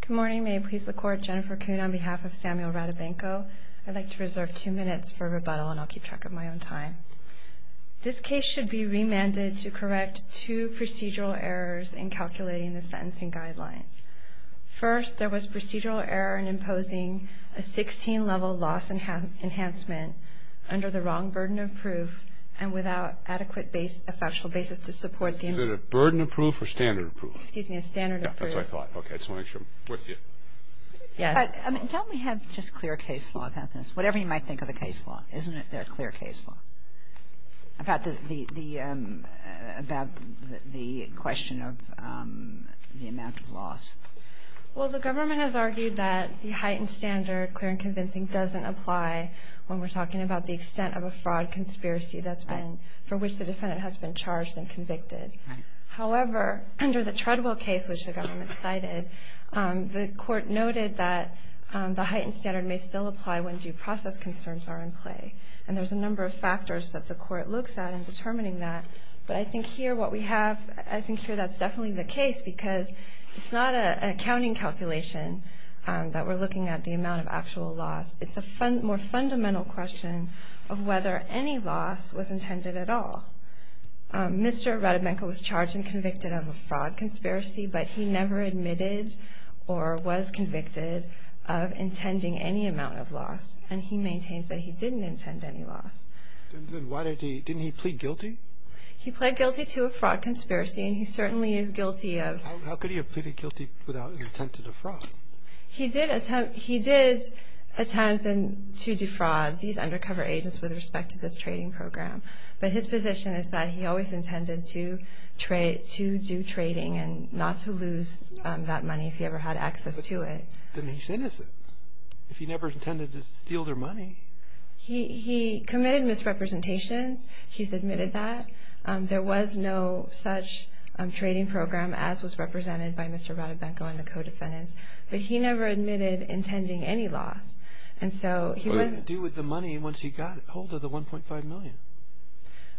Good morning. May it please the Court, Jennifer Kuhn on behalf of Samuel Radobenko. I'd like to reserve two minutes for rebuttal and I'll keep track of my own time. This case should be remanded to correct two procedural errors in calculating the sentencing guidelines. First, there was procedural error in imposing a 16-level loss enhancement under the wrong burden of proof and without adequate factual basis to support the… Was it a burden of proof or standard of proof? Excuse me, a standard of proof. Yeah, that's what I thought. Okay, I just wanted to make sure I'm with you. Yes. I mean, don't we have just clear case law about this? Whatever you might think of the case law, isn't there a clear case law about the question of the amount of loss? Well, the government has argued that the heightened standard, clear and convincing, doesn't apply when we're talking about the extent of a fraud conspiracy that's been… Right. …for which the defendant has been charged and convicted. Right. However, under the Treadwell case, which the government cited, the court noted that the heightened standard may still apply when due process concerns are in play. And there's a number of factors that the court looks at in determining that. But I think here what we have… I think here that's definitely the case because it's not an accounting calculation that we're looking at the amount of actual loss. It's a more fundamental question of whether any loss was intended at all. Mr. Radobenko was charged and convicted of a fraud conspiracy, but he never admitted or was convicted of intending any amount of loss. And he maintains that he didn't intend any loss. Then why did he – didn't he plead guilty? He pled guilty to a fraud conspiracy, and he certainly is guilty of… How could he have pleaded guilty without intent to defraud? He did attempt – he did attempt to defraud these undercover agents with respect to this trading program. But his position is that he always intended to do trading and not to lose that money if he ever had access to it. Then he's innocent if he never intended to steal their money. He committed misrepresentations. He's admitted that. There was no such trading program as was represented by Mr. Radobenko and the co-defendants. But he never admitted intending any loss. What would he do with the money once he got hold of the $1.5 million?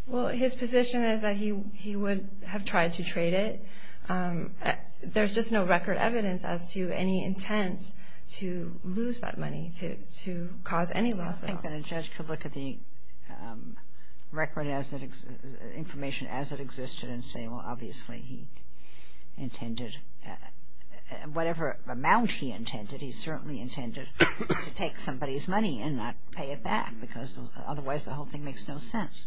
Well, his position is that he would have tried to trade it. There's just no record evidence as to any intent to lose that money to cause any loss at all. I think that a judge could look at the record as it – information as it existed and say, well, obviously he intended – whatever amount he intended, he certainly intended to take somebody's money and not pay it back because otherwise the whole thing makes no sense.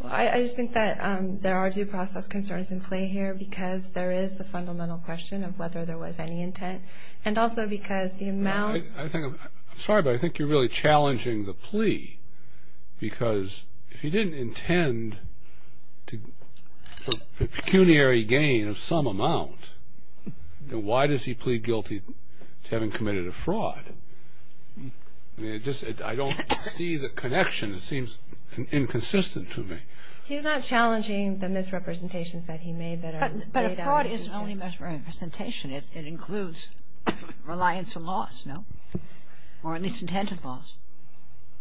Well, I just think that there are due process concerns in play here because there is the fundamental question of whether there was any intent and also because the amount – I'm sorry, but I think you're really challenging the plea because if he didn't intend for pecuniary gain of some amount, then why does he plead guilty to having committed a fraud? I mean, it just – I don't see the connection. It seems inconsistent to me. He's not challenging the misrepresentations that he made that are laid out in detail. But a fraud isn't only misrepresentation. It includes reliance on loss, no? Or a misintent of loss.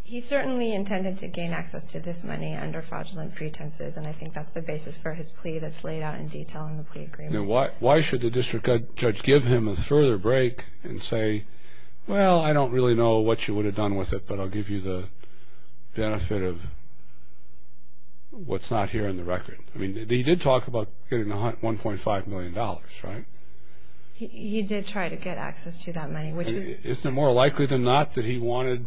He certainly intended to gain access to this money under fraudulent pretenses, and I think that's the basis for his plea that's laid out in detail in the plea agreement. Why should the district judge give him a further break and say, well, I don't really know what you would have done with it, but I'll give you the benefit of what's not here in the record? I mean, he did talk about getting $1.5 million, right? He did try to get access to that money, which was – Isn't it more likely than not that he wanted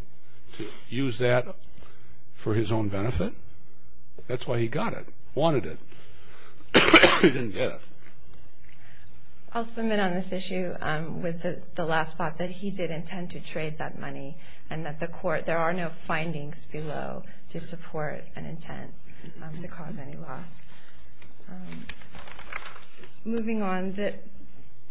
to use that for his own benefit? That's why he got it, wanted it. He didn't get it. I'll submit on this issue with the last thought that he did intend to trade that money and that the court – there are no findings below to support an intent to cause any loss. Moving on,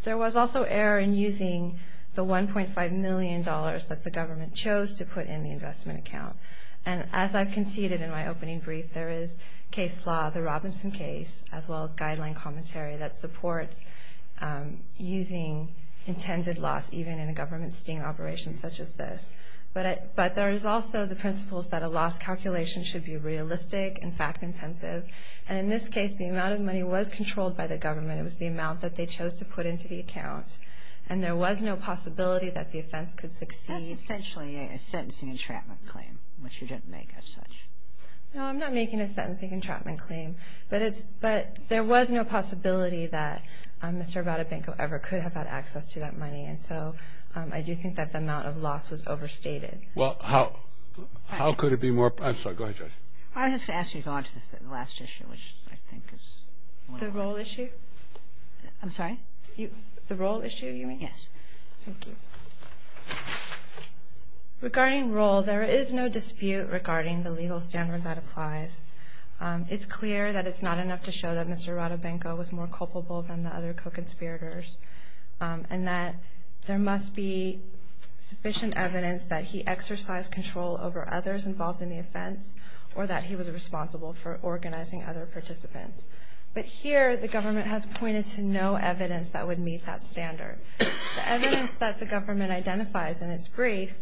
there was also error in using the $1.5 million that the government chose to put in the investment account. And as I conceded in my opening brief, there is case law, the Robinson case, as well as guideline commentary that supports using intended loss, even in a government sting operation such as this. But there is also the principles that a loss calculation should be realistic and fact-intensive. And in this case, the amount of money was controlled by the government. It was the amount that they chose to put into the account. And there was no possibility that the offense could succeed. That's essentially a sentencing entrapment claim, which you didn't make as such. No, I'm not making a sentencing entrapment claim. But there was no possibility that Mr. Rabado-Banco ever could have had access to that money. And so I do think that the amount of loss was overstated. Well, how could it be more – I'm sorry. Go ahead, Judge. I was just going to ask you to go on to the last issue, which I think is – The roll issue? I'm sorry? The roll issue, you mean? Yes. Thank you. Regarding roll, there is no dispute regarding the legal standard that applies. It's clear that it's not enough to show that Mr. Rabado-Banco was more culpable than the other co-conspirators and that there must be sufficient evidence that he exercised control over others involved in the offense or that he was responsible for organizing other participants. But here, the government has pointed to no evidence that would meet that standard. The evidence that the government identifies in its brief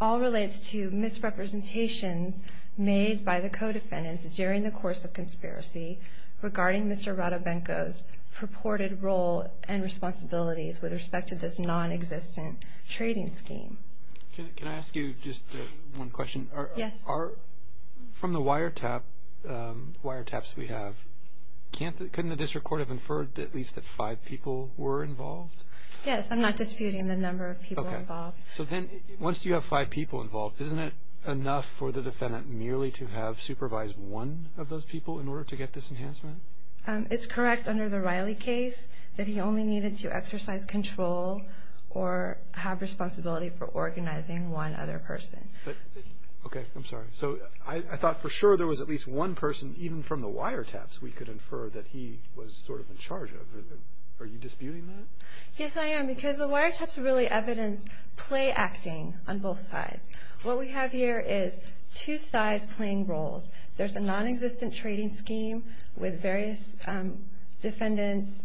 all relates to misrepresentations made by the co-defendants during the course of conspiracy regarding Mr. Rabado-Banco's purported role and responsibilities with respect to this nonexistent trading scheme. Can I ask you just one question? Yes. From the wiretaps we have, couldn't the district court have inferred at least that five people were involved? Yes, I'm not disputing the number of people involved. Okay. So then, once you have five people involved, isn't it enough for the defendant merely to have supervised one of those people in order to get this enhancement? It's correct under the Riley case that he only needed to exercise control or have responsibility for organizing one other person. Okay. I'm sorry. So I thought for sure there was at least one person, even from the wiretaps, we could infer that he was sort of in charge of it. Are you disputing that? Yes, I am, because the wiretaps really evidence play-acting on both sides. What we have here is two sides playing roles. There's a nonexistent trading scheme with various defendants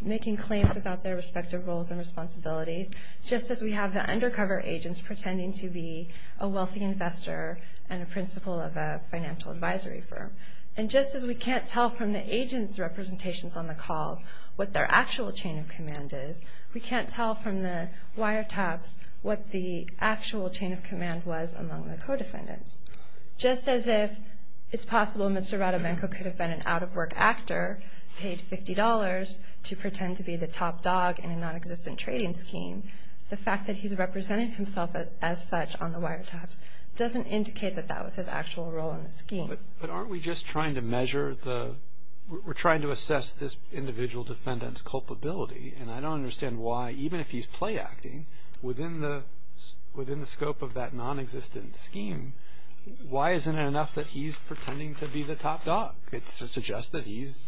making claims about their respective roles and responsibilities, just as we have the undercover agents pretending to be a wealthy investor and a principal of a financial advisory firm. And just as we can't tell from the agents' representations on the calls what their actual chain of command is, we can't tell from the wiretaps what the actual chain of command was among the co-defendants. Just as if it's possible Mr. Radomenko could have been an out-of-work actor, paid $50 to pretend to be the top dog in a nonexistent trading scheme, the fact that he's representing himself as such on the wiretaps doesn't indicate that that was his actual role in the scheme. But aren't we just trying to measure the – we're trying to assess this individual defendant's culpability, and I don't understand why, even if he's play-acting, within the scope of that nonexistent scheme, why isn't it enough that he's pretending to be the top dog? It suggests that he's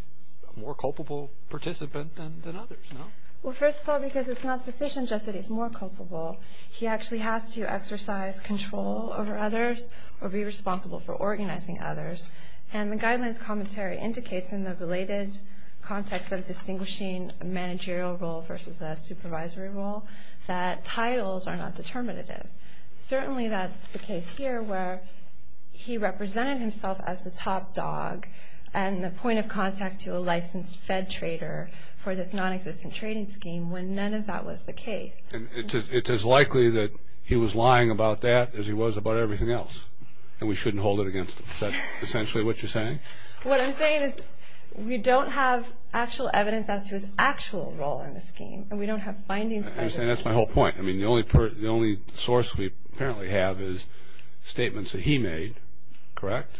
a more culpable participant than others, no? Well, first of all, because it's not sufficient just that he's more culpable. He actually has to exercise control over others or be responsible for organizing others, and the guidelines commentary indicates in the related context of distinguishing a managerial role versus a supervisory role that titles are not determinative. Certainly that's the case here where he represented himself as the top dog and the point of contact to a licensed Fed trader for this nonexistent trading scheme when none of that was the case. It's as likely that he was lying about that as he was about everything else, and we shouldn't hold it against him. Is that essentially what you're saying? What I'm saying is we don't have actual evidence as to his actual role in the scheme, and we don't have findings. That's my whole point. I mean, the only source we apparently have is statements that he made, correct?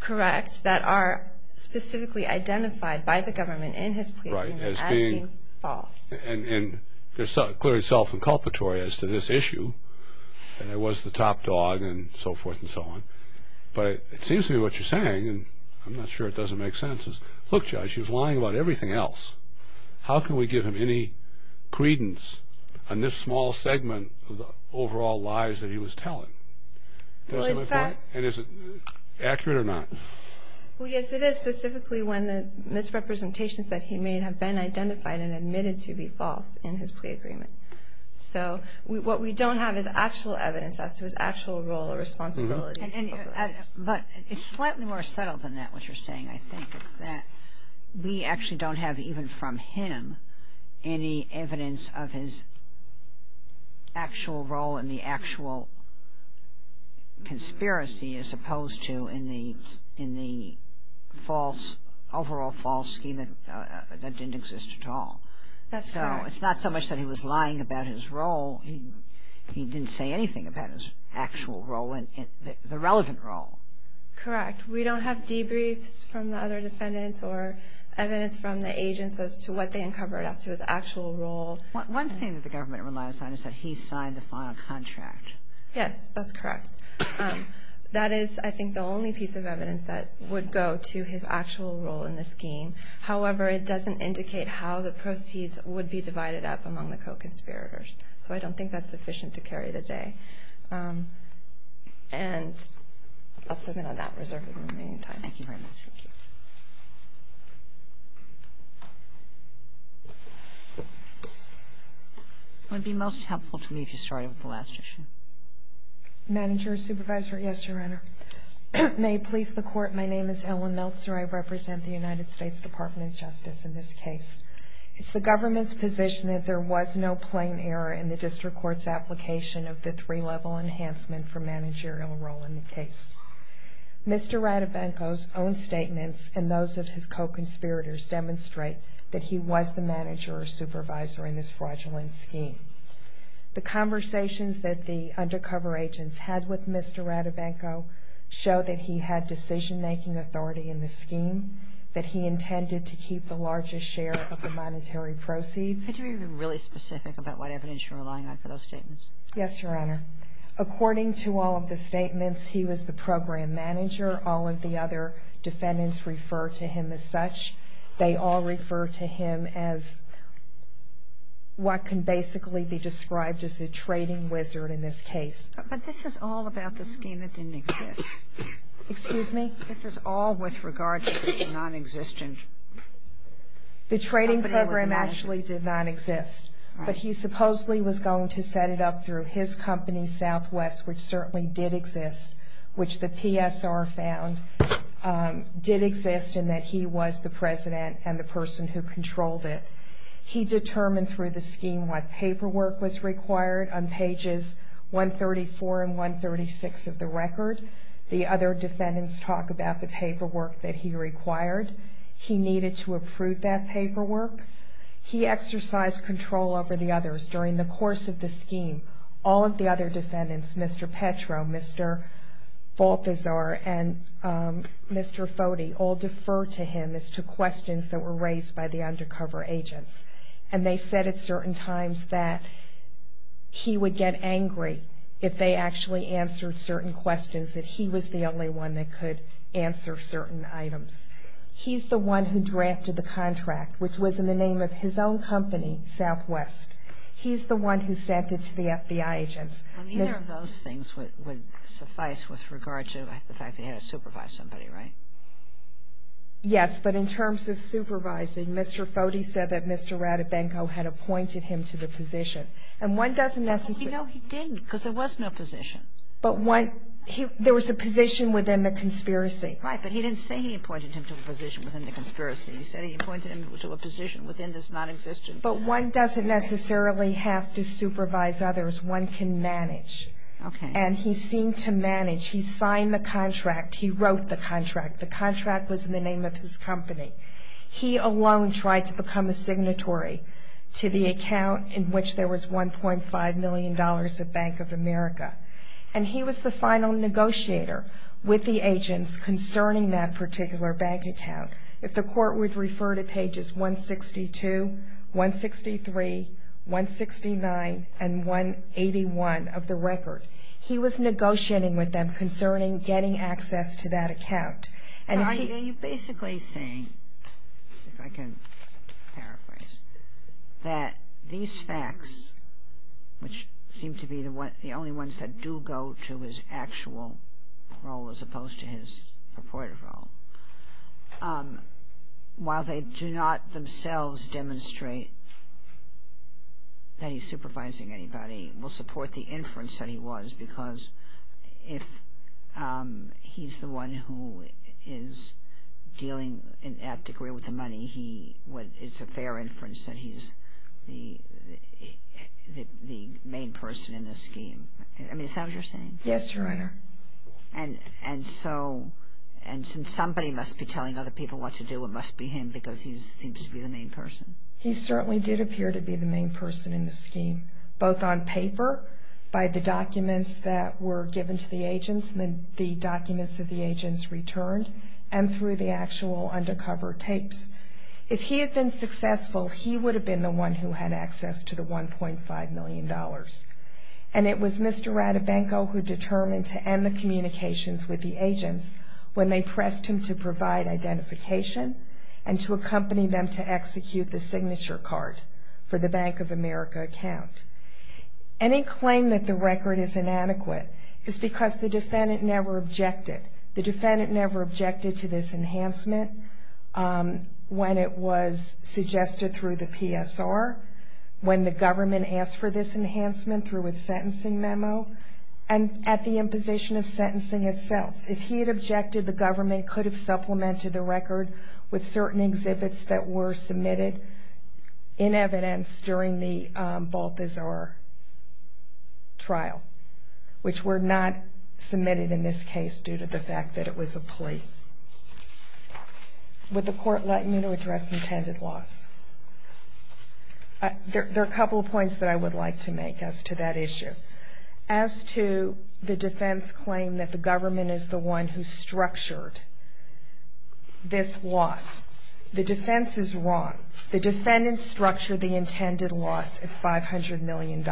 Correct, that are specifically identified by the government in his plea as being false. And they're clearly self-inculpatory as to this issue, that I was the top dog and so forth and so on, but it seems to me what you're saying, and I'm not sure it doesn't make sense, is, he was lying about everything else. How can we give him any credence on this small segment of the overall lies that he was telling? And is it accurate or not? Well, yes, it is, specifically when the misrepresentations that he made have been identified and admitted to be false in his plea agreement. So what we don't have is actual evidence as to his actual role or responsibility. But it's slightly more subtle than that, what you're saying, I think. It's that we actually don't have, even from him, any evidence of his actual role in the actual conspiracy as opposed to in the overall false scheme that didn't exist at all. So it's not so much that he was lying about his role. He didn't say anything about his actual role and the relevant role. Correct. We don't have debriefs from the other defendants or evidence from the agents as to what they uncovered as to his actual role. One thing that the government relies on is that he signed the final contract. Yes, that's correct. That is, I think, the only piece of evidence that would go to his actual role in the scheme. However, it doesn't indicate how the proceeds would be divided up among the co-conspirators. So I don't think that's sufficient to carry the day. And I'll submit on that reserve in the remaining time. Thank you very much. Thank you. It would be most helpful to me if you started with the last question. Manager, Supervisor, yes, Your Honor. May it please the Court, my name is Ellen Meltzer. I represent the United States Department of Justice in this case. It's the government's position that there was no plain error in the district court's application of the three-level enhancement for managerial role in the case. Mr. Radivenko's own statements and those of his co-conspirators demonstrate that he was the manager or supervisor in this fraudulent scheme. The conversations that the undercover agents had with Mr. Radivenko that he intended to keep the largest share of the monetary proceeds. Could you be really specific about what evidence you're relying on for those statements? Yes, Your Honor. According to all of the statements, he was the program manager. All of the other defendants refer to him as such. They all refer to him as what can basically be described as the trading wizard in this case. But this is all about the scheme that didn't exist. Excuse me? This is all with regard to the non-existent. The trading program actually did not exist. But he supposedly was going to set it up through his company, Southwest, which certainly did exist, which the PSR found did exist in that he was the president and the person who controlled it. He determined through the scheme what paperwork was required on pages 134 and 136 of the record. The other defendants talk about the paperwork that he required. He needed to approve that paperwork. He exercised control over the others during the course of the scheme. All of the other defendants, Mr. Petro, Mr. Balthazar, and Mr. Foti, all defer to him as to questions that were raised by the undercover agents. And they said at certain times that he would get angry if they actually answered certain questions, that he was the only one that could answer certain items. He's the one who drafted the contract, which was in the name of his own company, Southwest. He's the one who sent it to the FBI agents. And either of those things would suffice with regard to the fact that he had to supervise somebody, right? Yes. But in terms of supervising, Mr. Foti said that Mr. Ratabenko had appointed him to the position. And one doesn't necessarily ñ No, he didn't, because there was no position. But one ñ there was a position within the conspiracy. Right. But he didn't say he appointed him to a position within the conspiracy. He said he appointed him to a position within this nonexistent ñ But one doesn't necessarily have to supervise others. One can manage. Okay. And he seemed to manage. He signed the contract. He wrote the contract. The contract was in the name of his company. He alone tried to become a signatory to the account in which there was $1.5 million of Bank of America. And he was the final negotiator with the agents concerning that particular bank account. If the court would refer to pages 162, 163, 169, and 181 of the record, he was negotiating with them concerning getting access to that account. So are you basically saying, if I can paraphrase, that these facts, which seem to be the only ones that do go to his actual role as opposed to his purported role, while they do not themselves demonstrate that he's supervising anybody, will support the inference that he was? Because if he's the one who is dealing in that degree with the money, it's a fair inference that he's the main person in this scheme. I mean, is that what you're saying? Yes, Your Honor. And so, and since somebody must be telling other people what to do, it must be him because he seems to be the main person. He certainly did appear to be the main person in the scheme, both on paper by the documents that were given to the agents and the documents that the agents returned, and through the actual undercover tapes. If he had been successful, he would have been the one who had access to the $1.5 million. And it was Mr. Ratabenko who determined to end the communications with the agents when they pressed him to provide identification and to accompany them to execute the signature card for the Bank of America account. Any claim that the record is inadequate is because the defendant never objected. The defendant never objected to this enhancement when it was suggested through the PSR, when the government asked for this enhancement through a sentencing memo, and at the imposition of sentencing itself. If he had objected, the government could have supplemented the record with certain exhibits that were submitted in evidence during the Balthazar trial, which were not submitted in this case due to the fact that it was a plea. Would the court like me to address intended loss? There are a couple of points that I would like to make as to that issue. As to the defense claim that the government is the one who structured this loss, the defense is wrong. The defendants structured the intended loss at $500 million,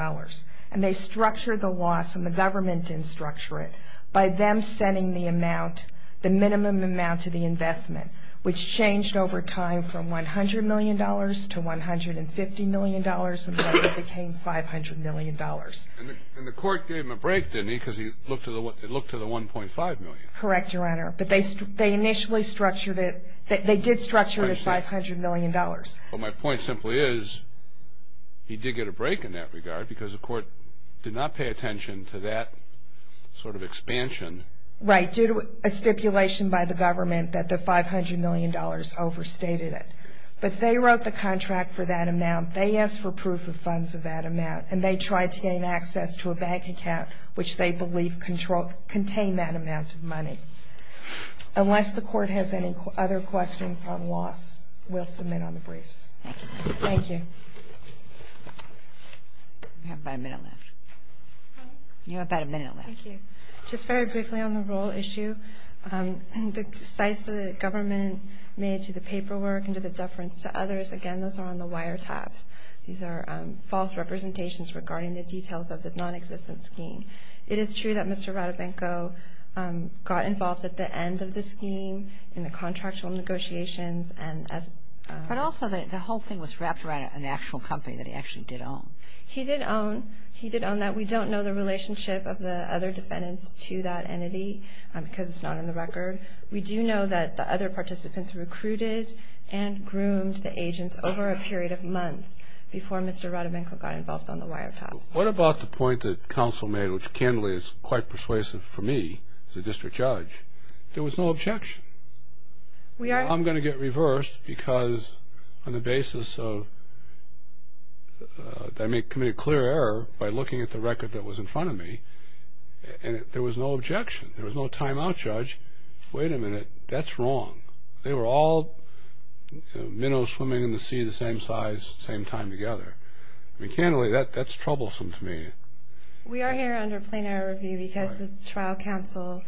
and they structured the loss, and the government didn't structure it, by them setting the minimum amount to the investment, which changed over time from $100 million to $150 million, and then it became $500 million. And the court gave him a break, didn't he, because it looked to the $1.5 million? Correct, Your Honor. But they initially structured it. They did structure it at $500 million. But my point simply is he did get a break in that regard because the court did not pay attention to that sort of expansion. Right, due to a stipulation by the government that the $500 million overstated it. But they wrote the contract for that amount. They asked for proof of funds of that amount, and they tried to gain access to a bank account which they believed contained that amount of money. Unless the court has any other questions on loss, we'll submit on the briefs. Thank you. Thank you. We have about a minute left. You have about a minute left. Thank you. Just very briefly on the roll issue, the cites that the government made to the paperwork and to the deference to others, again, those are on the wiretaps. These are false representations regarding the details of the nonexistent scheme. It is true that Mr. Ratabenko got involved at the end of the scheme in the contractual negotiations. But also the whole thing was wrapped around an actual company that he actually did own. He did own that. We don't know the relationship of the other defendants to that entity because it's not on the record. We do know that the other participants recruited and groomed the agents over a period of months before Mr. Ratabenko got involved on the wiretaps. What about the point that counsel made, which candidly is quite persuasive for me as a district judge? There was no objection. I'm going to get reversed because on the basis that I committed a clear error by looking at the record that was in front of me, there was no objection. There was no timeout, Judge. Wait a minute. That's wrong. They were all minnows swimming in the sea the same size, same time together. I mean, candidly, that's troublesome to me. We are here under a plain error review because the trial counsel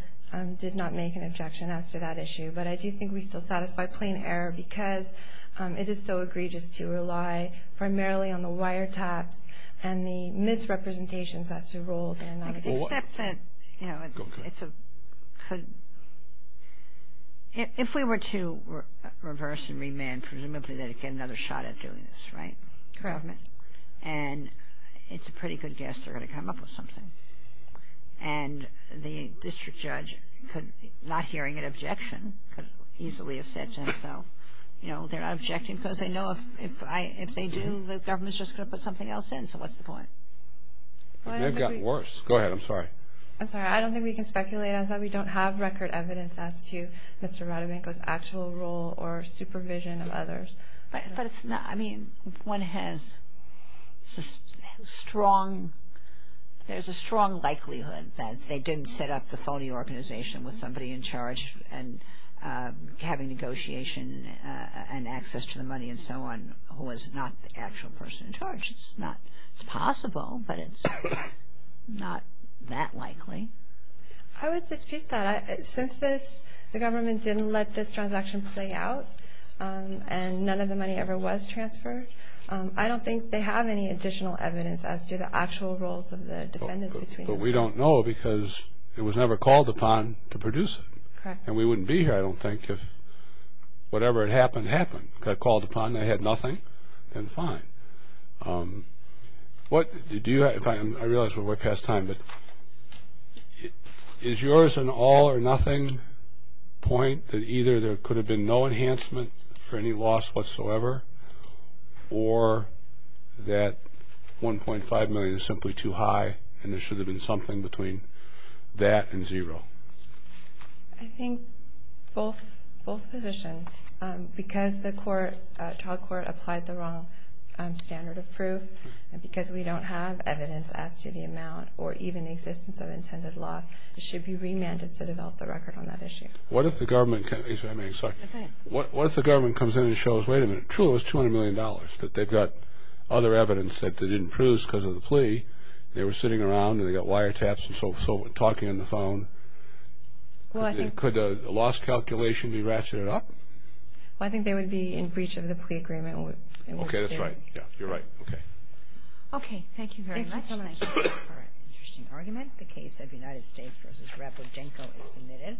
did not make an objection as to that issue. But I do think we still satisfy plain error because it is so egregious to rely primarily on the wiretaps and the misrepresentations as to roles in a non-existent case. Except that, you know, it's a good – if we were to reverse and remand, presumably they'd get another shot at doing this, right? Correct. And it's a pretty good guess they're going to come up with something. And the district judge, not hearing an objection, could easily have said to himself, you know, they're not objecting because they know if they do, the government's just going to put something else in. So what's the point? They've gotten worse. Go ahead. I'm sorry. I'm sorry. I don't think we can speculate on that. We don't have record evidence as to Mr. Radivanko's actual role or supervision of others. But it's not – I mean, one has strong – there's a strong likelihood that they didn't set up the phony organization with somebody in charge and having negotiation and access to the money and so on who was not the actual person in charge. It's not – it's possible, but it's not that likely. I would dispute that. Since the government didn't let this transaction play out and none of the money ever was transferred, I don't think they have any additional evidence as to the actual roles of the defendants. But we don't know because it was never called upon to produce it. And we wouldn't be here, I don't think, if whatever had happened happened. It got called upon. They had nothing. Then fine. I realize we're way past time, but is yours an all-or-nothing point that either there could have been no enhancement for any loss whatsoever or that $1.5 million is simply too high and there should have been something between that and zero? I think both positions. Because the trial court applied the wrong standard of proof and because we don't have evidence as to the amount or even the existence of intended loss, it should be remanded to develop the record on that issue. What if the government comes in and shows, wait a minute, truly it was $200 million that they've got other evidence that they didn't produce because of the plea. They were sitting around and they got wiretaps and so forth, talking on the phone. Could a loss calculation be ratcheted up? I think they would be in breach of the plea agreement. Okay, that's right. Yeah, you're right. Okay, thank you very much. Thank you. Interesting argument. The case of United States v. Rapodenko is submitted.